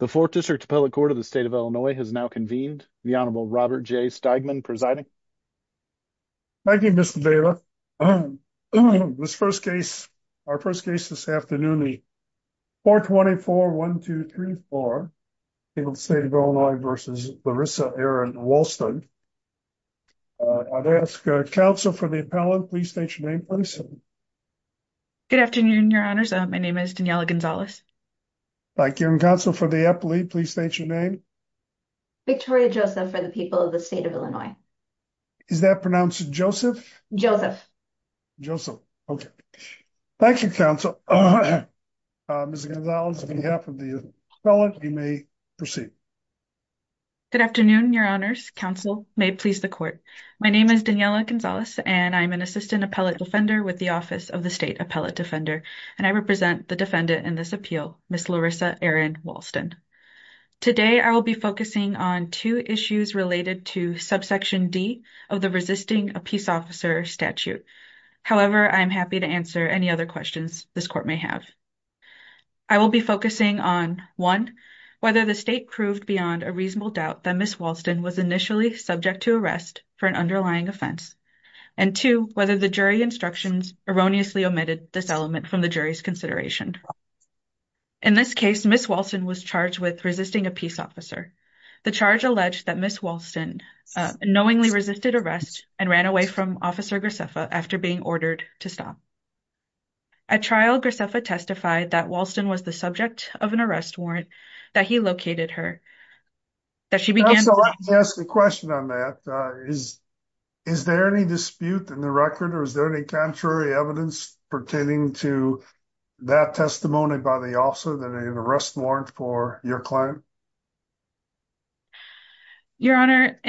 The 4th District Appellate Court of the State of Illinois has now convened. The Honorable Robert J. Steigman presiding. Thank you, Mr. Dela. This first case, our first case this afternoon, the 424-1234, State of Illinois v. Larissa Erin Walston. I'd ask counsel for the appellant, please state your name, please. Good afternoon, your honors. My name is Daniella Gonzalez. Thank you. And counsel for the appellate, please state your name. Victoria Joseph for the people of the State of Illinois. Is that pronounced Joseph? Joseph. Joseph. Okay. Thank you, counsel. Ms. Gonzalez, on behalf of the appellant, you may proceed. Good afternoon, your honors. Counsel may please the court. My name is Daniella Gonzalez, and I'm an assistant appellate defender with the Office of the State Appellate Defender, and I represent the defendant in this appeal, Ms. Larissa Erin Walston. Today, I will be focusing on two issues related to subsection D of the resisting a peace officer statute. However, I'm happy to answer any other questions this court may have. I will be focusing on, one, whether the state proved beyond a reasonable doubt that Ms. Walston was initially subject to arrest for an underlying offense, and two, whether the jury instructions erroneously omitted this element from the jury's consideration. In this case, Ms. Walston was charged with resisting a peace officer. The charge alleged that Ms. Walston knowingly resisted arrest and ran away from Officer Graceffa after being ordered to stop. At trial, Graceffa testified that Walston was the subject of an arrest warrant that he located her. So let me ask a question on that. Is there any dispute in the record, or is there any contrary evidence pertaining to that testimony by the officer that an arrest warrant for your client? Your Honor,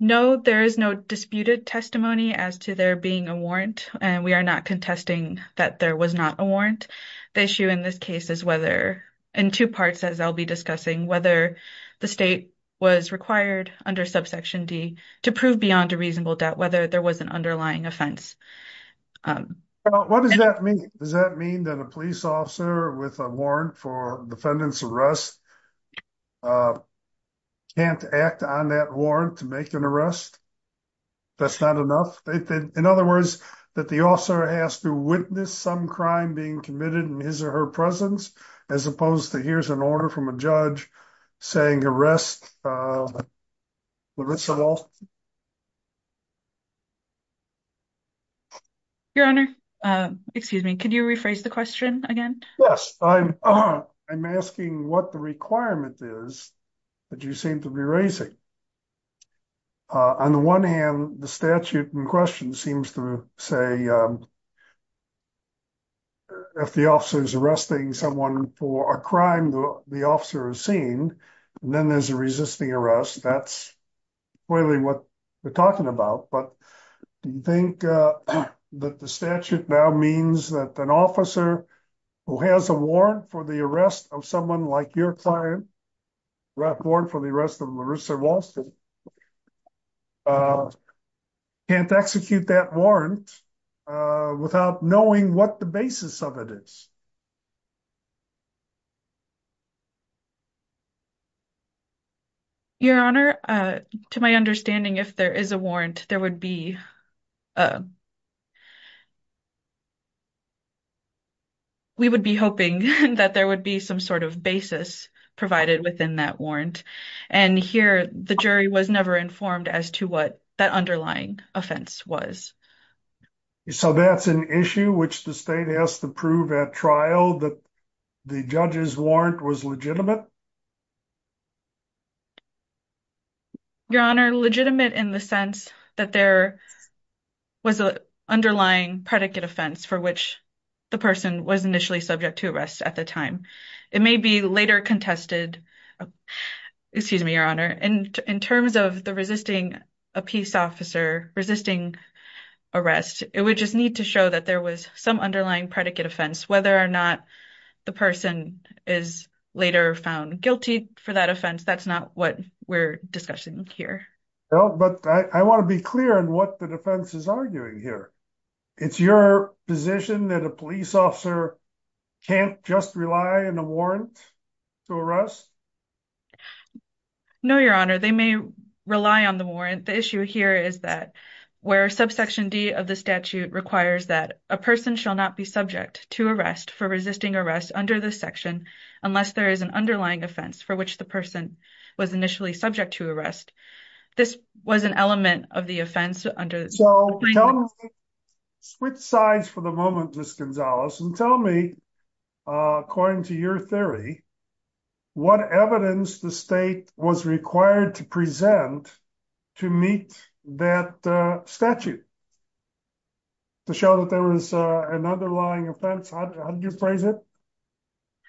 no, there is no disputed testimony as to there being a warrant, and we are not contesting that there was not a warrant. The issue in this case is whether, in two parts as I'll be discussing, whether the state was required under subsection D to prove beyond a reasonable doubt whether there was an underlying offense. What does that mean? Does that mean that a police officer with a warrant for defendant's arrest can't act on that warrant to make an arrest? That's not enough? In other words, that the officer has to witness some crime being committed in his or her presence, as opposed to here's an order from a judge saying arrest Larissa Walston? Your Honor, excuse me, could you rephrase the question again? Yes, I'm asking what the requirement is that you seem to be raising. On the one hand, the statute in question seems to say if the officer is arresting someone for a crime the officer has seen, then there's a resisting arrest. That's clearly what we're talking about, but do you think that the statute now means that an officer who has a warrant for the arrest of someone like your client, a warrant for the arrest of Larissa Walston, can't execute that warrant without knowing what the basis of it is? Your Honor, to my understanding if there is a warrant there would be we would be hoping that there would be some sort of basis provided within that warrant, and here the jury was never informed as to what that underlying offense was. So that's an issue which the state has to prove at trial that the judge's warrant was legitimate? Your Honor, legitimate in the sense that there was an underlying predicate offense for which the person was initially subject to arrest at the time. It may be later contested. Excuse me, Your Honor, in terms of the resisting a peace officer resisting arrest, it would just need to show that there was some underlying predicate offense. Whether or not the person is later found guilty for that offense, that's not what we're discussing here. Well, but I want to be clear on what the defense is arguing here. It's your position that a police officer can't just rely on a warrant to arrest? No, Your Honor, they may rely on the warrant. The issue here is that where subsection d of the statute requires that a person shall not be subject to arrest for resisting arrest under this section unless there is an underlying offense for which the person was initially subject to arrest. This was an element of the offense under. Switch sides for the moment, Ms. Gonzalez, and tell me, according to your theory, what evidence the state was required to present to meet that statute to show that there was an underlying offense? How do you phrase it?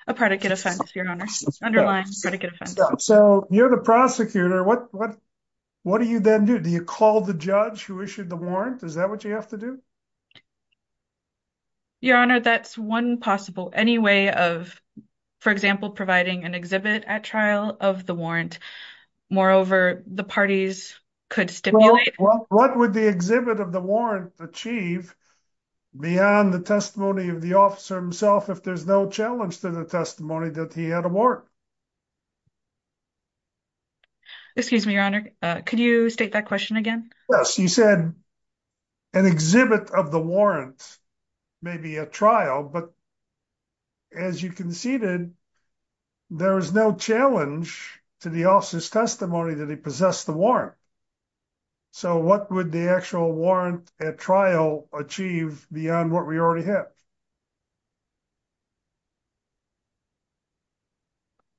A predicate offense, Your Honor. Underlying predicate offense. So you're the prosecutor. What do you then do? Do you call the judge who issued the warrant? Is that what you have to do? Your Honor, that's one possible. Any way of, for example, providing an exhibit at trial of the warrant. Moreover, the parties could stimulate. What would the exhibit of the warrant achieve beyond the testimony of the officer himself if there's no challenge to the testimony that he had a warrant? Excuse me, Your Honor. Could you state that question again? Yes, you said an exhibit of the warrant, maybe a trial, but as you conceded, there is no challenge to the officer's testimony that he possessed the warrant. So what would the actual warrant at trial achieve beyond what we already have?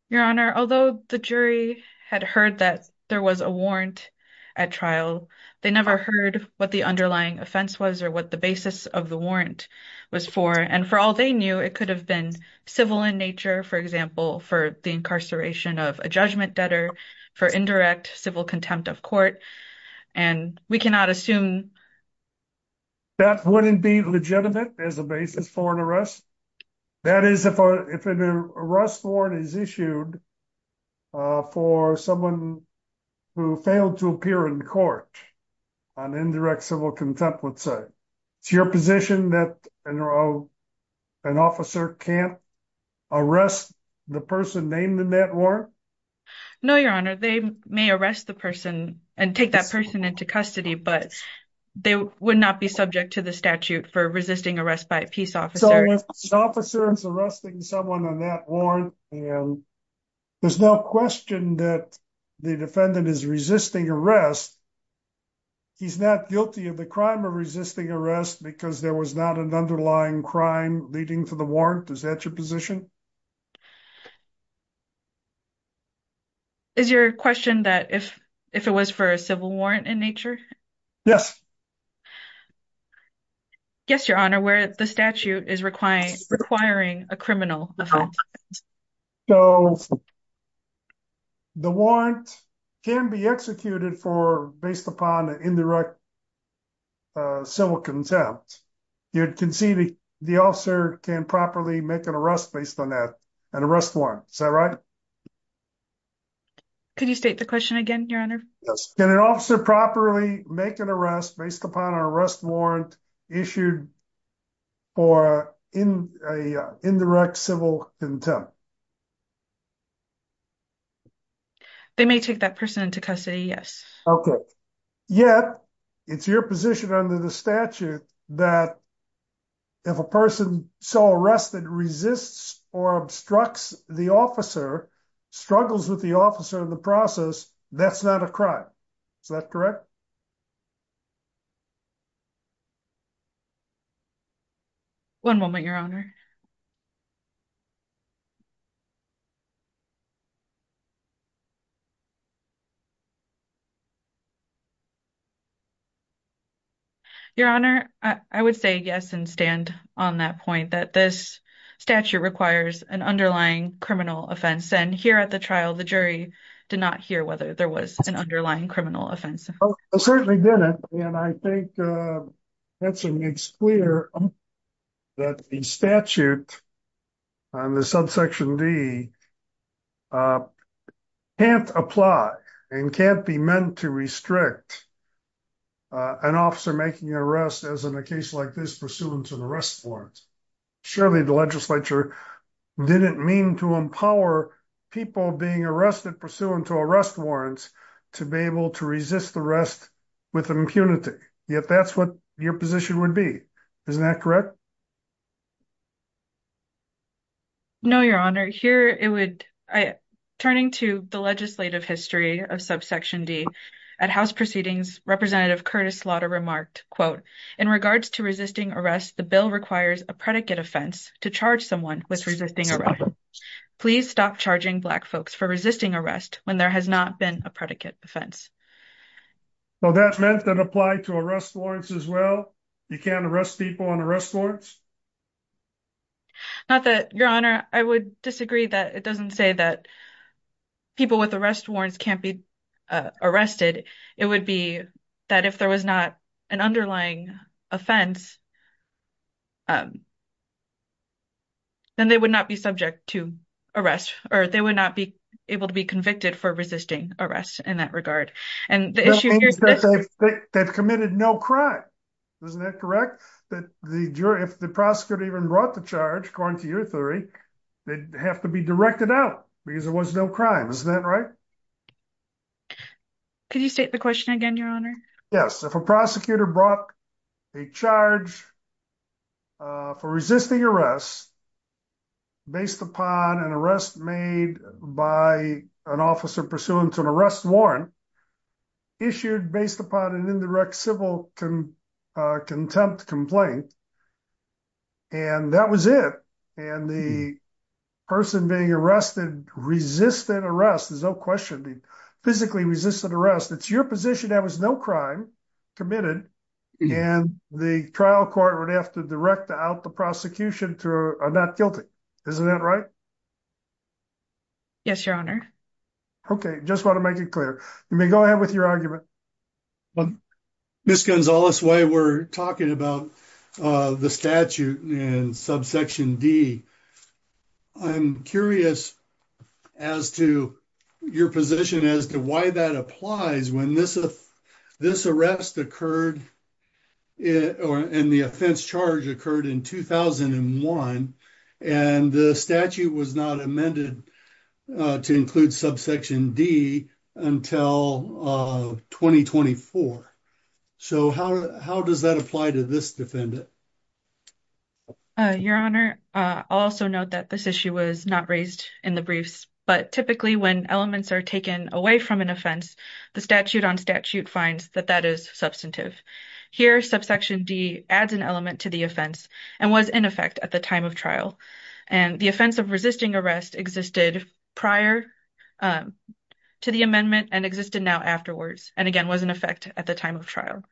Your Honor, although the jury had heard that there was a warrant at trial, they never heard what the underlying offense was or what the basis of the warrant was for. And for all they knew, it could have been civil in nature, for example, for the incarceration of a judgment debtor, for indirect civil contempt of court. And we cannot assume. That wouldn't be legitimate as a basis for an arrest? That is, if an arrest warrant is issued for someone who failed to appear in court on indirect civil contempt, let's say. It's your position that an officer can't arrest the person named in that warrant? No, Your Honor, they may arrest the person and take that person into custody, but they would not be subject to the statute for resisting arrest by a peace officer. So if an officer is arresting someone on that warrant and there's no question that the defendant is resisting arrest, he's not guilty of the crime of resisting arrest because there was not an underlying crime leading to the warrant? Is that your position? Is your question that if it was for a civil warrant in nature? Yes. Yes, Your Honor, where the statute is requiring a criminal offense. So the warrant can be executed based upon indirect civil contempt. You can see the officer can properly make an arrest based on that an arrest warrant. Is that right? Could you state the question again, Your Honor? Yes. Can an officer properly make an arrest based upon an arrest warrant issued for indirect civil contempt? They may take that person into custody. Yes. Okay. Yet it's your position under the statute that if a person so arrested resists or obstructs the officer, struggles with the officer in the process, that's not a crime. Is that correct? One moment, Your Honor. Your Honor, I would say yes and stand on that point that this statute requires an underlying criminal offense. And here at the trial, the jury did not hear whether there was an underlying that the statute on the subsection D can't apply and can't be meant to restrict an officer making an arrest as in a case like this pursuant to the arrest warrants. Surely the legislature didn't mean to empower people being arrested pursuant to arrest warrants to be able to resist the rest with impunity. Yet that's what your position would be. Isn't that correct? No, Your Honor. Turning to the legislative history of subsection D, at house proceedings, Representative Curtis Slaughter remarked, quote, in regards to resisting arrest, the bill requires a predicate offense to charge someone with resisting arrest. Please stop charging black folks for resisting arrest when there has not been a predicate offense. Well, that meant that applied to arrest warrants as well? You can't arrest people on arrest warrants? Not that, Your Honor, I would disagree that it doesn't say that people with arrest warrants can't be arrested. It would be that if there was not an underlying offense, then they would not be subject to arrest or they would not be able to be in that regard. They've committed no crime, isn't that correct? If the prosecutor even brought the charge, according to your theory, they'd have to be directed out because there was no crime, isn't that right? Could you state the question again, Your Honor? Yes, if a prosecutor brought a charge for resisting arrest based upon an arrest made by an officer pursuant to an arrest warrant issued based upon an indirect civil contempt complaint, and that was it, and the person being arrested resisted arrest, there's no question, physically resisted arrest, it's your position there was no crime committed, and the trial court would have to direct out the prosecution to a not guilty, isn't that right? Yes, Your Honor. Okay, just want to make it clear. You may go ahead with your argument. Ms. Gonzalez, while we're talking about the statute in subsection D, I'm curious as to your position as to why that applies when this arrest occurred and the offense charge occurred in 2001, and the statute was not amended to include subsection D until 2024, so how does that apply to this defendant? Your Honor, I'll also note that this issue was not raised in the briefs, but typically when elements are taken away from an offense, the statute on statute finds that that is substantive. Here, subsection D adds an element to the offense and was in effect at the time of trial, and the offense of resisting arrest existed prior to the amendment and existed now afterwards, and again was in effect at the time of trial.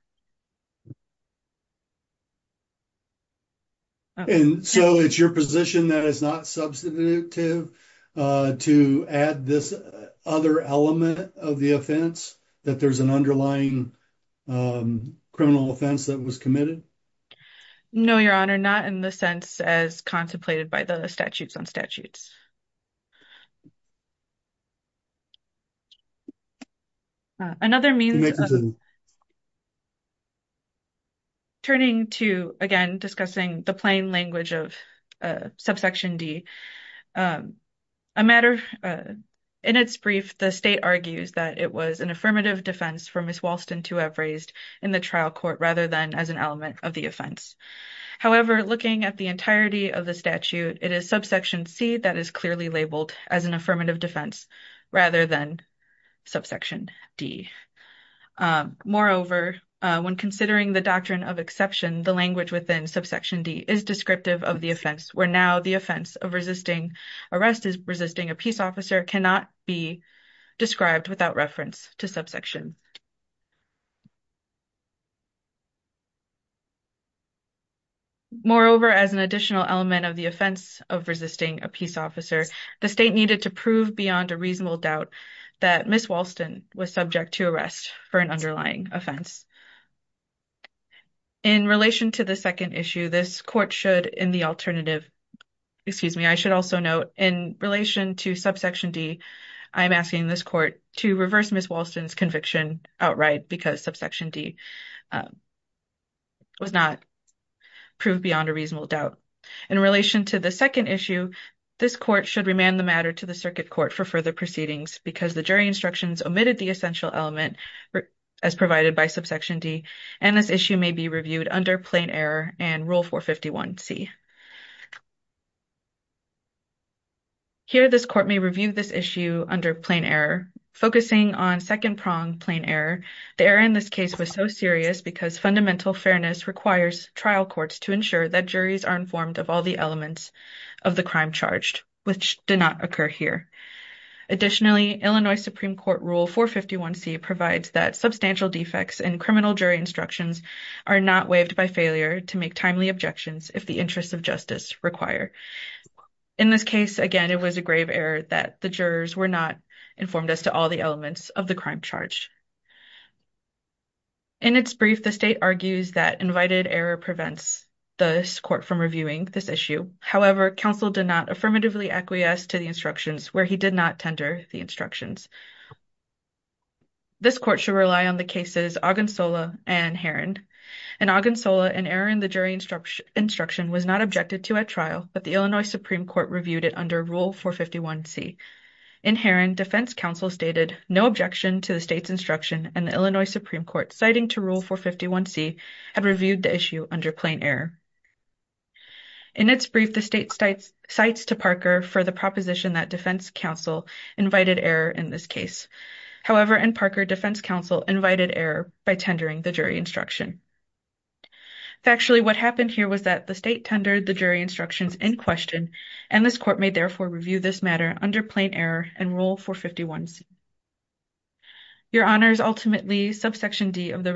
And so it's your position that it's not substantive to add this other element of the offense, that there's an underlying criminal offense that was committed? No, Your Honor, not in the sense as contemplated by the statutes on statutes. Turning to, again, discussing the plain language of subsection D, a matter in its brief, the state argues that it was an affirmative defense for Ms. of the offense. However, looking at the entirety of the statute, it is subsection C that is clearly labeled as an affirmative defense rather than subsection D. Moreover, when considering the doctrine of exception, the language within subsection D is descriptive of the offense, where now the offense of resisting arrest is resisting a peace officer cannot be described without reference to subsection. Moreover, as an additional element of the offense of resisting a peace officer, the state needed to prove beyond a reasonable doubt that Ms. was subject to arrest for an underlying offense. In relation to the second issue, this court should, in the alternative, excuse me, I should also note in relation to subsection D, I'm asking this court to reverse Ms. Walston's conviction outright because subsection D was not proved beyond a reasonable doubt. In relation to the second issue, this court should remand the matter to the circuit court for further proceedings because the jury instructions omitted the essential element as provided by subsection D, and this issue may be reviewed under plain error and Rule 451C. Here, this court may review this issue under plain error, focusing on second-pronged plain error. The error in this case was so serious because fundamental fairness requires trial courts to ensure that juries are informed of all the elements of the crime charged, which did not occur here. Additionally, Illinois Supreme Court Rule 451C provides that substantial defects in criminal jury instructions are not waived by failure to make timely objections if the interests of justice require. In this case, again, it was a grave error that the jurors were not informed as to all the elements of the crime charged. In its brief, the state argues that invited error prevents this court from reviewing this issue. However, counsel did not affirmatively acquiesce to the instructions where he did not tender the instructions. This court should rely on the cases Ogunsola and Herron. In Ogunsola, an error in the jury instruction was not objected to at trial, but the Illinois Supreme Court reviewed it under Rule 451C. In Herron, defense counsel stated no objection to the state's instruction, and the Illinois Supreme Court, citing to Rule 451C, had reviewed the issue under plain error. In its brief, the state cites to Parker for the proposition that defense counsel invited error in this case. However, in Ogunsola, defense counsel stated no objection to the state's instruction, and the Illinois Supreme Court, Parker defense counsel invited error by tendering the jury instruction. Factually, what happened here was that the state tendered the jury instructions in question, and this court may therefore review this matter under plain error and Rule 451C. Your Honors, ultimately, subsection D of the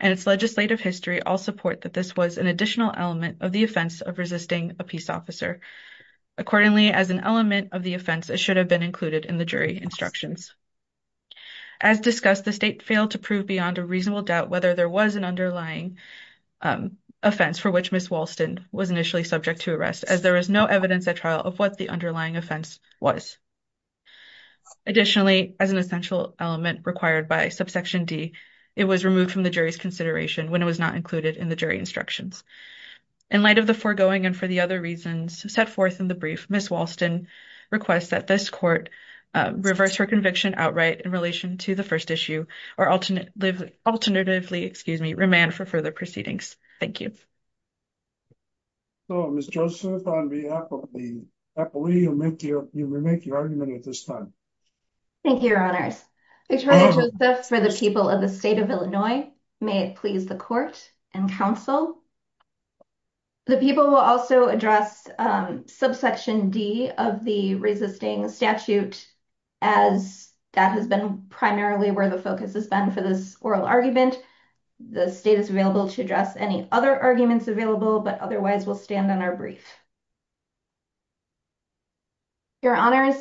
and its legislative history all support that this was an additional element of the offense of resisting a peace officer. Accordingly, as an element of the offense, it should have been included in the jury instructions. As discussed, the state failed to prove beyond a reasonable doubt whether there was an underlying offense for which Ms. Walston was initially subject to arrest, as there is no evidence at trial of what the underlying offense was. Additionally, as an it was not included in the jury instructions. In light of the foregoing and for the other reasons set forth in the brief, Ms. Walston requests that this court reverse her conviction outright in relation to the first issue, or alternatively, excuse me, remand for further proceedings. Thank you. So, Ms. Joseph, on behalf of the appellee, you may make your argument at this time. Thank you, Your Honors. Victoria Joseph for the people of the state of Illinois. May it please the court and counsel. The people will also address subsection D of the resisting statute, as that has been primarily where the focus has been for this oral argument. The state is available to address any other arguments available, but otherwise, we'll stand on our brief. Your Honors,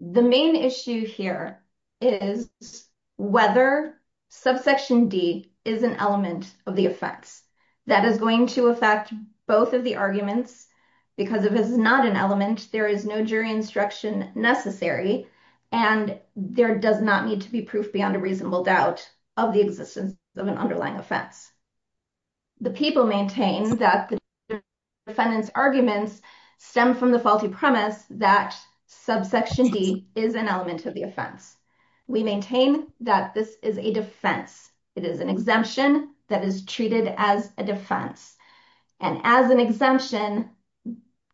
the main issue here is whether subsection D is an element of the offense. That is going to affect both of the arguments, because if it's not an element, there is no jury instruction necessary, and there does not need to be proof beyond a reasonable doubt of the existence of an underlying offense. The people maintain that the defendant's arguments stem from the faulty premise that subsection D is an element of the offense. We maintain that this is a defense. It is an exemption that is treated as a defense, and as an exemption,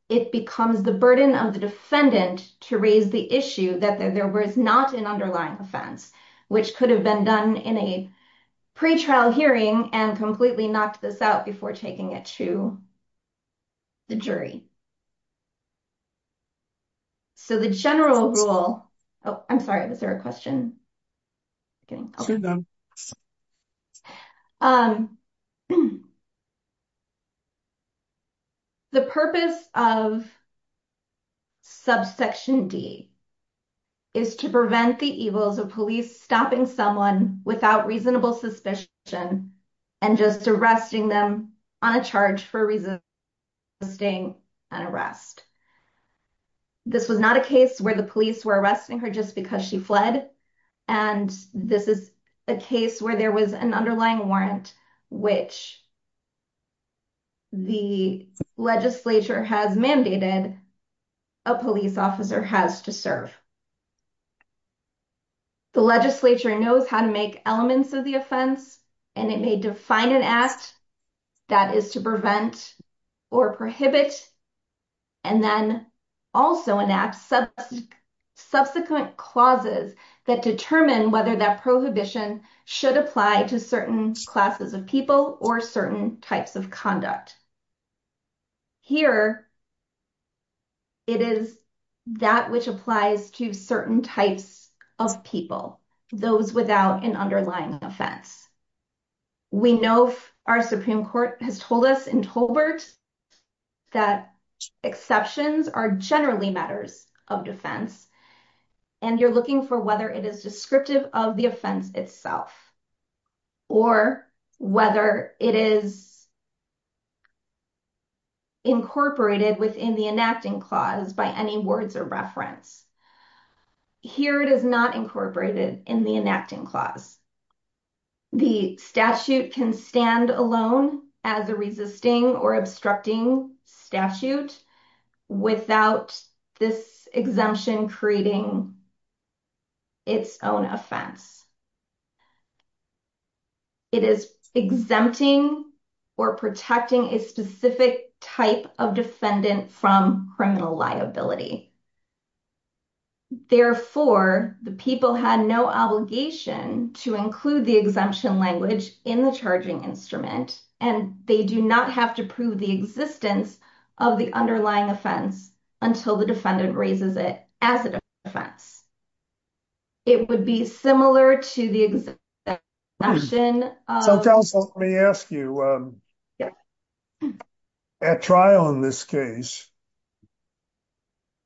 it becomes the burden of the defendant to raise the issue that there was not an underlying offense, which could have been done in a pre-trial hearing and completely knocked this out before taking it to the jury. So the general rule, oh, I'm sorry, was there a question? The purpose of subsection D is to prevent the evils of police stopping someone without reasonable suspicion and just arresting them on a charge for resisting an arrest. This was not a case where the police were arresting her just because she fled, and this is a case where there was an underlying warrant, which the legislature has mandated a police officer has to serve. The legislature knows how to make elements of the offense, and it may define an act that is to prevent or prohibit, and then also enact subsequent clauses that determine whether that prohibition should apply to certain classes of people or certain types of conduct. Here, it is that which applies to certain types of people, those without an underlying offense. We know our Supreme Court has told us in Tolbert that exceptions are generally matters of defense, and you're looking for whether it is descriptive of the offense itself or whether it is incorporated within the enacting clause by any words or reference. Here, it is not incorporated in the enacting clause. The statute can stand alone as a resisting or obstructing statute without this exemption creating its own offense. It is exempting or protecting a specific type of defendant from criminal liability. Therefore, the people had no obligation to include the exemption language in the charging instrument, and they do not have to prove the existence of the underlying offense until the defendant raises it as a defense. It would be similar to the exemption. So, counsel, let me ask you, at trial in this case,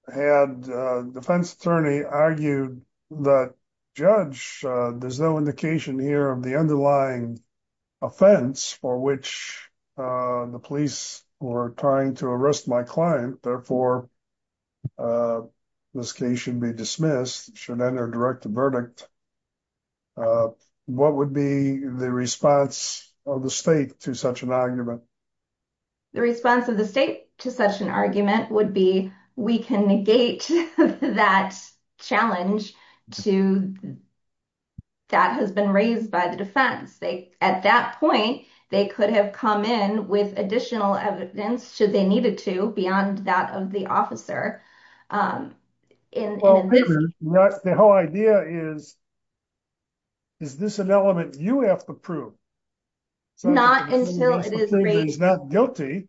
had a defense attorney argued that, Judge, there's no indication here of the underlying offense for which the police were trying to arrest my client, therefore, this case should be dismissed, should enter a direct verdict. What would be the response of the state to such an argument? The response of the state to such an argument would be, we can negate that challenge to that has been raised by the defense. At that point, they could have come in with additional evidence should they needed to beyond that of the officer. The whole idea is, is this an element you have to prove? Not until it is not guilty,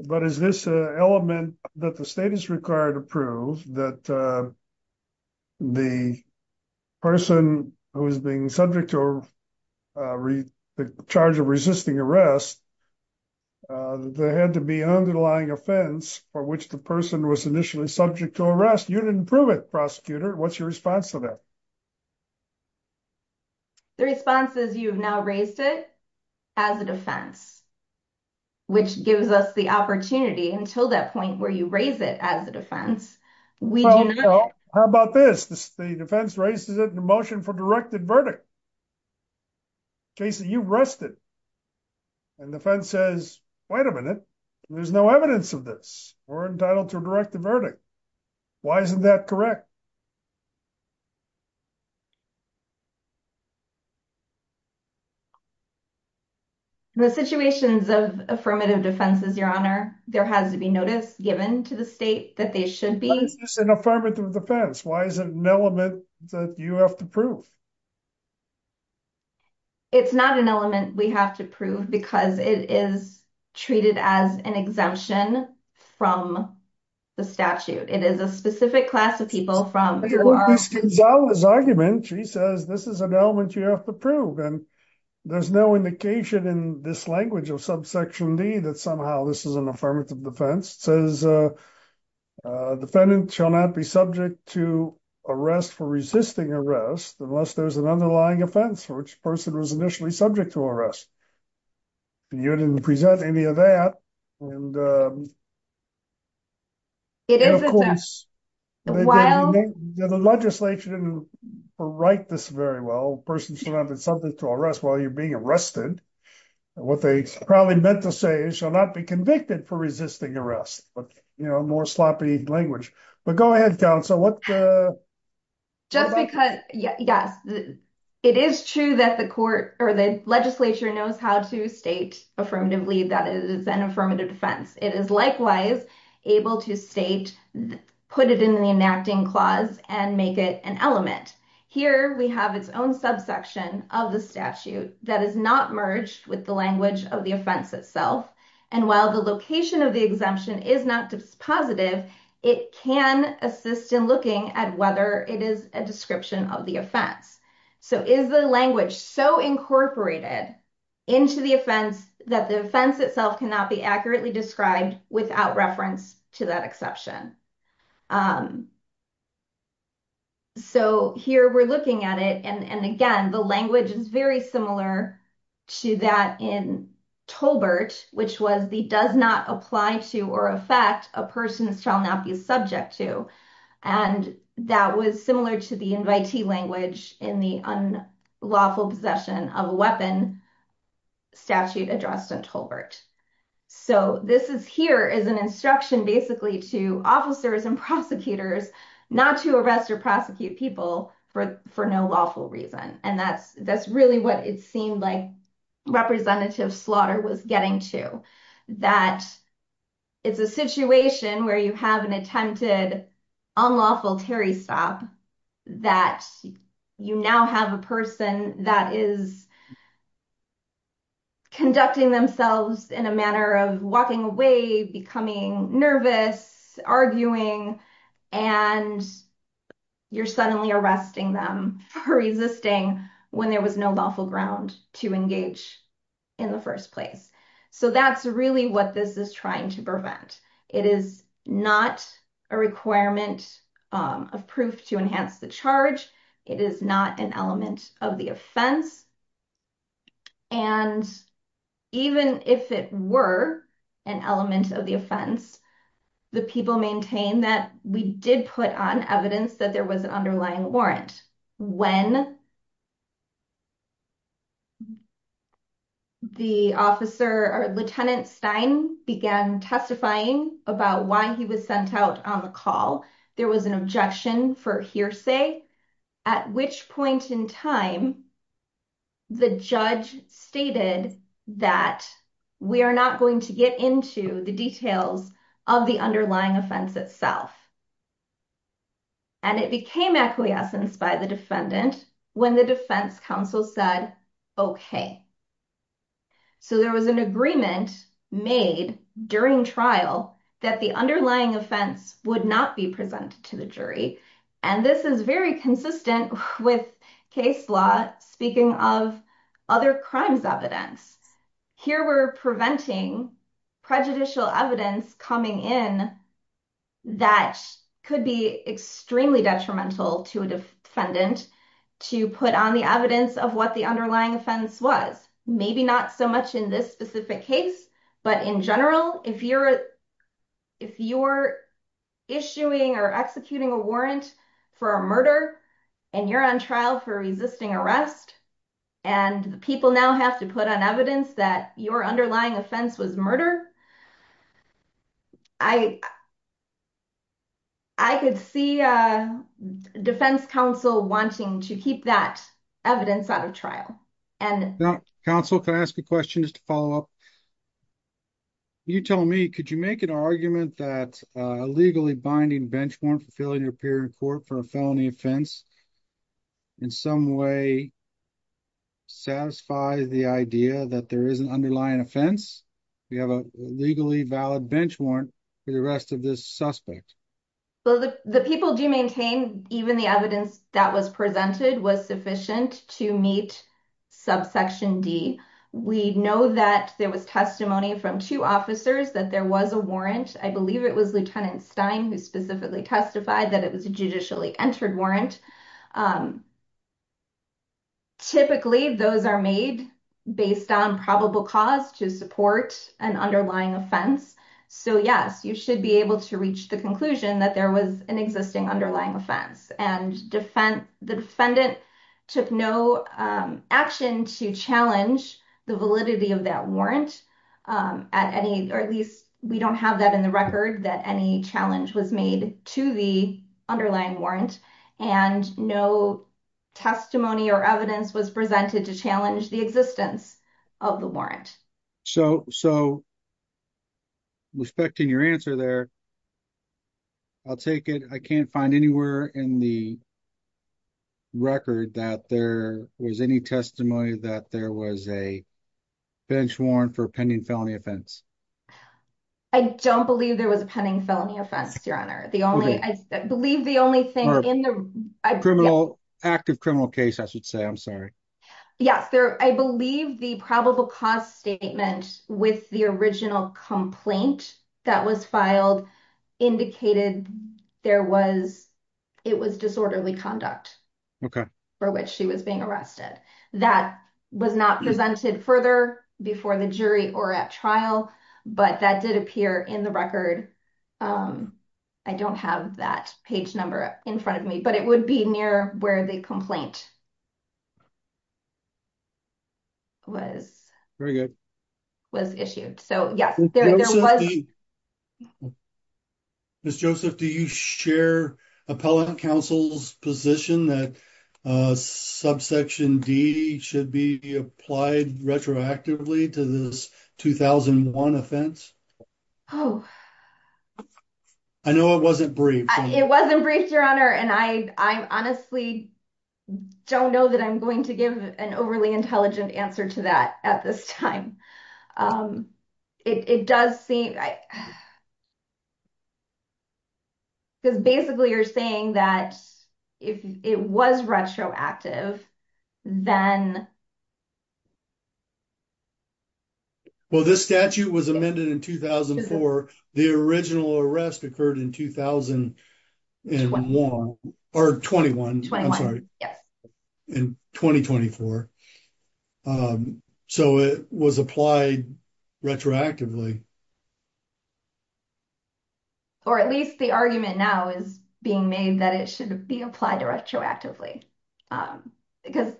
but is this an element that the state is required to prove that the person who is being subject to the charge of resisting arrest, that there had to be an underlying offense for which the person was initially subject to arrest? You didn't prove it, prosecutor. What's your response to that? The response is, you've now raised it as a defense, which gives us the opportunity until that point where you raise it as a defense. How about this? The defense raises it in a motion for directed verdict. Jason, you've rested. And the defense says, wait a minute, there's no evidence of this. We're entitled to a directed verdict. Why isn't that correct? In the situations of affirmative defenses, your honor, there has to be notice given to the state that they should be. But it's just an affirmative defense. Why is it an element that you have to prove? It's not an element we have to prove because it is treated as an exemption from the statute. It is a specific class of people from- But in Gonzalez's argument, she says, this is an element you have to prove. And there's no indication in this language of subsection D that somehow this is an affirmative defense. It says, defendant shall not be subject to arrest for resisting arrest unless there's an underlying offense for which the person was initially subject to arrest. You didn't present any of that. And of course, the legislature didn't write this very well. A person should not be subject to arrest while you're being arrested. What they probably meant to say is shall not be convicted for resisting arrest, but more sloppy language. But go ahead, counsel. Just because, yes, it is true that the court or the legislature knows how to state affirmatively that it is an affirmative defense. It is likewise able to state, put it in the enacting clause and make it an element. Here, we have its own subsection of the statute that is not merged with the language of the offense itself. While the location of the exemption is not positive, it can assist in looking at whether it is a description of the offense. Is the language so incorporated into the offense that the offense itself cannot be accurately described without reference to that exception? Here, we're looking at it. Again, the language is very similar to that in Tolbert, which was the does not apply to or affect a person shall not be subject to. That was similar to the invitee language in the unlawful possession of a weapon statute addressed in Tolbert. This here is an instruction basically to officers and prosecutors not to arrest or prosecute people for no lawful reason. That's really what it seemed like representative slaughter was getting to. It's a situation where you have an attempted unlawful Terry stop that you now have a person that is conducting themselves in a manner of walking away, becoming nervous, arguing, and you're suddenly arresting them for resisting when there was no lawful ground to engage in the first place. That's really what this is trying to prevent. It is not a requirement of proof to enhance the charge. It is not an element of the offense. Even if it were an element of the offense, the people maintain that we did put on evidence that there was an underlying warrant. When the officer or Lieutenant Stein began testifying about why he was sent out on the call, there was an objection for hearsay, at which point in time, the judge stated that we are not going to get into the details of the underlying offense itself. It became acquiescence by the defendant when the defense counsel said, okay. There was an agreement made during trial that the underlying offense would not be presented to the jury. This is very consistent with case law, speaking of other crimes evidence. Here, we're preventing prejudicial evidence coming in that could be extremely detrimental to a defendant to put on the evidence of what the underlying offense was. Maybe not so much in this specific case, but in general, if you're issuing or executing a warrant for a murder and you're on trial for resisting arrest, and the people now have to put on evidence that your underlying to keep that evidence out of trial. Counsel, can I ask a question just to follow up? You told me, could you make an argument that a legally binding bench warrant for failing to appear in court for a felony offense in some way satisfies the idea that there is an underlying offense? We have a legally valid bench warrant for the rest of this suspect. Well, the people do maintain even the evidence that was presented was sufficient to meet subsection D. We know that there was testimony from two officers that there was a warrant. I believe it was Lieutenant Stein who specifically testified that it was a judicially entered warrant. Typically, those are made based on probable cause to support an underlying offense. Yes, you should be able to reach the conclusion that there was an existing underlying offense. The defendant took no action to challenge the validity of that warrant. At least, we don't have that in the record that any challenge was made to the underlying warrant, and no testimony or evidence was presented to challenge the existence of the warrant. So, respecting your answer there, I'll take it. I can't find anywhere in the record that there was any testimony that there was a bench warrant for a pending felony offense. I don't believe there was a pending felony offense, Your Honor. I believe the only thing in the- Active criminal case, I should say. I'm sorry. Yes, I believe the probable cause statement with the original complaint that was filed indicated it was disorderly conduct for which she was being arrested. That was not presented further before the jury or at trial, but that did appear in the record. I don't have that page number in front of me, but it would be near where the complaint was. Very good. Was issued. So, yes. Ms. Joseph, do you share Appellant Counsel's position that subsection D should be applied retroactively to this 2001 offense? I know it wasn't briefed. It wasn't briefed, Your Honor, and I honestly don't know that I'm going to give an overly intelligent answer to that at this time. Um, it does seem- Because basically you're saying that if it was retroactive, then- Well, this statute was amended in 2004. The original arrest occurred in 2001, or 21, I'm Yes. In 2024. So, it was applied retroactively. Or at least the argument now is being made that it should be applied retroactively, because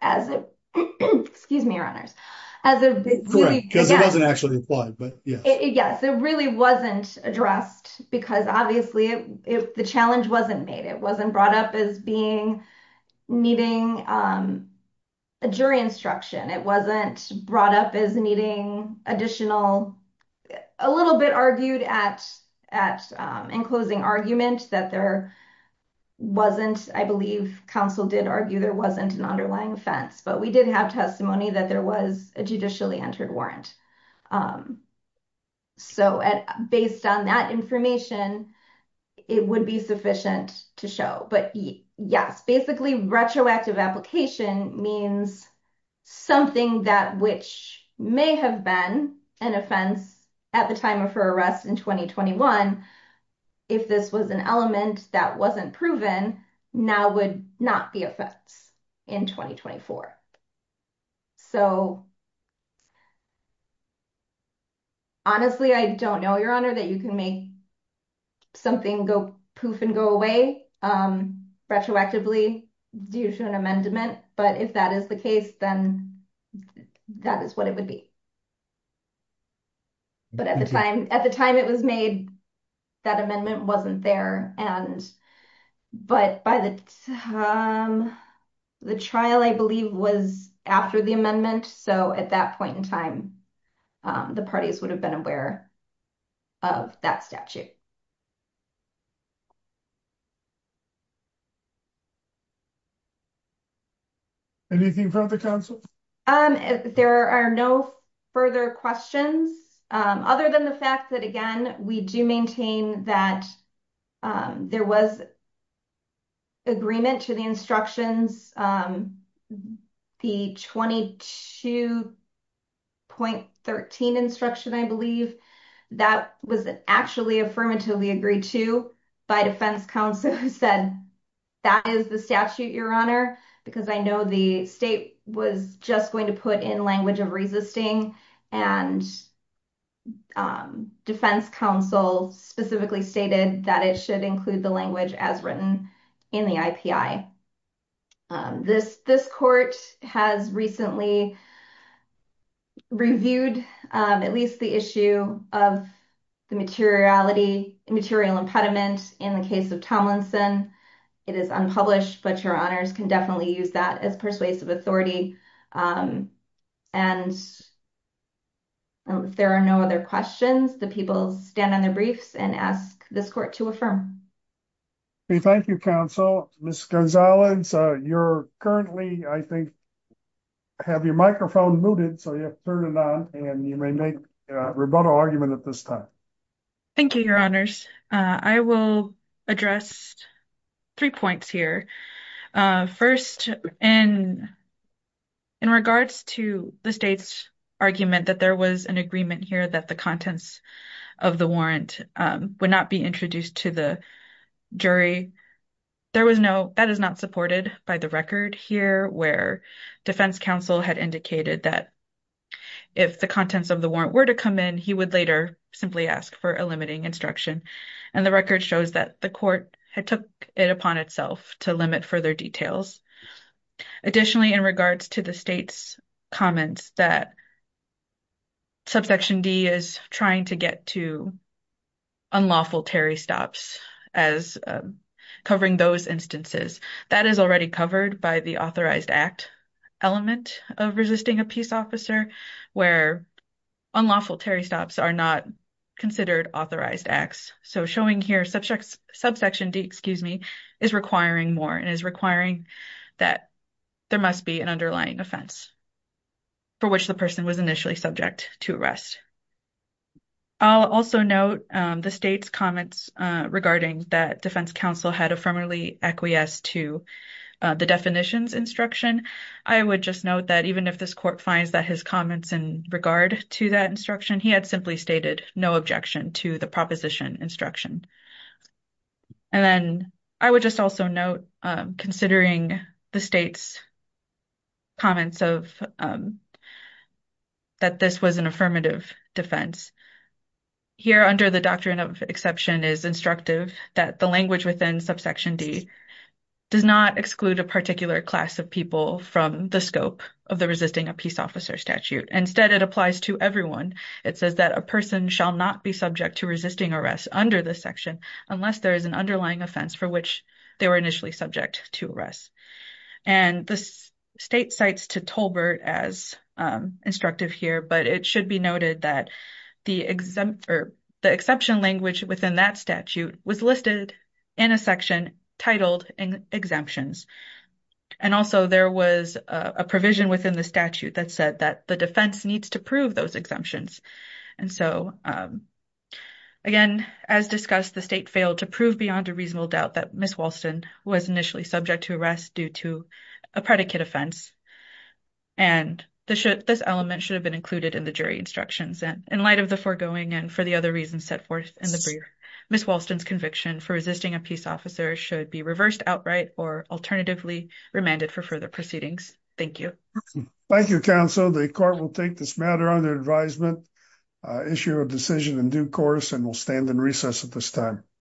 as it- Excuse me, Your Honors. As a- Correct, because it wasn't actually applied, but yes. Yes, it really wasn't addressed because obviously the challenge wasn't made. It wasn't brought up as being- needing a jury instruction. It wasn't brought up as needing additional- a little bit argued at- in closing argument that there wasn't- I believe counsel did argue there wasn't an underlying offense, but we did have testimony that there was a judicially entered warrant. So, based on that information, it would be sufficient to show, but yes, basically retroactive application means something that which may have been an offense at the time of her arrest in 2021, if this was an element that wasn't proven, now would not be offense in 2024. So, honestly, I don't know, Your Honor, that you can make something go- poof and go away retroactively due to an amendment, but if that is the case, then that is what it would be. But at the time- at the time it was made, that amendment wasn't there, and- but by the time- the trial, I believe, was after the amendment. So, at that point in time, the parties would have been aware of that statute. Anything from the counsel? There are no further questions, other than the fact that, again, we do maintain that there was agreement to the instructions. The 22.13 instruction, I believe, that was actually affirmatively agreed to by defense counsel, who said, that is the statute, Your Honor, because I know the state was just going to put in language of resisting, and defense counsel specifically stated that it should include the language as written in the IPI. This- this court has recently reviewed at least the issue of the materiality- material impediment in the case of Tomlinson. It is unpublished, but Your Honors can definitely use that as persuasive authority, and if there are no other questions, the people stand on their briefs and ask this court to affirm. Thank you, counsel. Ms. Gonzalez, you're currently, I think, have your microphone muted, so you have to turn it on, and you may make a rebuttal argument at this time. Thank you, Your Honors. I will address three points here. First, in- in regards to the state's argument that there was an agreement here that the contents of the warrant would not be introduced to the jury, there was no- that is not supported by the record here, where defense counsel had indicated that if the contents of the warrant were to come in, he would later simply ask for a limiting instruction, and the record shows that the court had took it upon itself to limit further details. Additionally, in regards to the state's comments that Subsection D is trying to get to unlawful Terry stops as covering those instances, that is already covered by the authorized act element of resisting a peace officer, where unlawful Terry stops are not considered authorized acts. So, showing here Subsection D, excuse me, is requiring more, and is requiring that there must be an underlying offense for which the person was initially subject to arrest. I'll also note the state's comments regarding that defense counsel had affirmatively acquiesced to the definitions instruction. I would just note that even if this court finds that his comments in regard to that instruction, he had simply stated no objection to the proposition instruction. And then, I would just also note, considering the state's comments of that this was an affirmative defense, here under the doctrine of exception is instructive that the language within Subsection D does not exclude a particular class of people from the scope of the resisting a peace officer statute. Instead, it applies to everyone. It says that a person shall not be subject to resisting arrest under this section unless there is an underlying offense for which they were initially subject to arrest. And the state cites to Tolbert as instructive here, but it should be noted that the exemption or the exception language within that statute was listed in a section titled exemptions. And also, there was a provision within the statute that said that the defense needs to prove those exemptions. And so, again, as discussed, the state failed to prove beyond a reasonable doubt that Ms. Walston was initially subject to arrest due to a predicate offense. And this element should have been included in the jury instructions. And in light of the foregoing and for the other reasons set forth in the brief, Ms. Walston's conviction for resisting a peace officer should be reversed outright or alternatively remanded for further proceedings. Thank you. Thank you, counsel. The court will take this matter under advisement, issue a decision in due course, and we'll stand in recess at this time.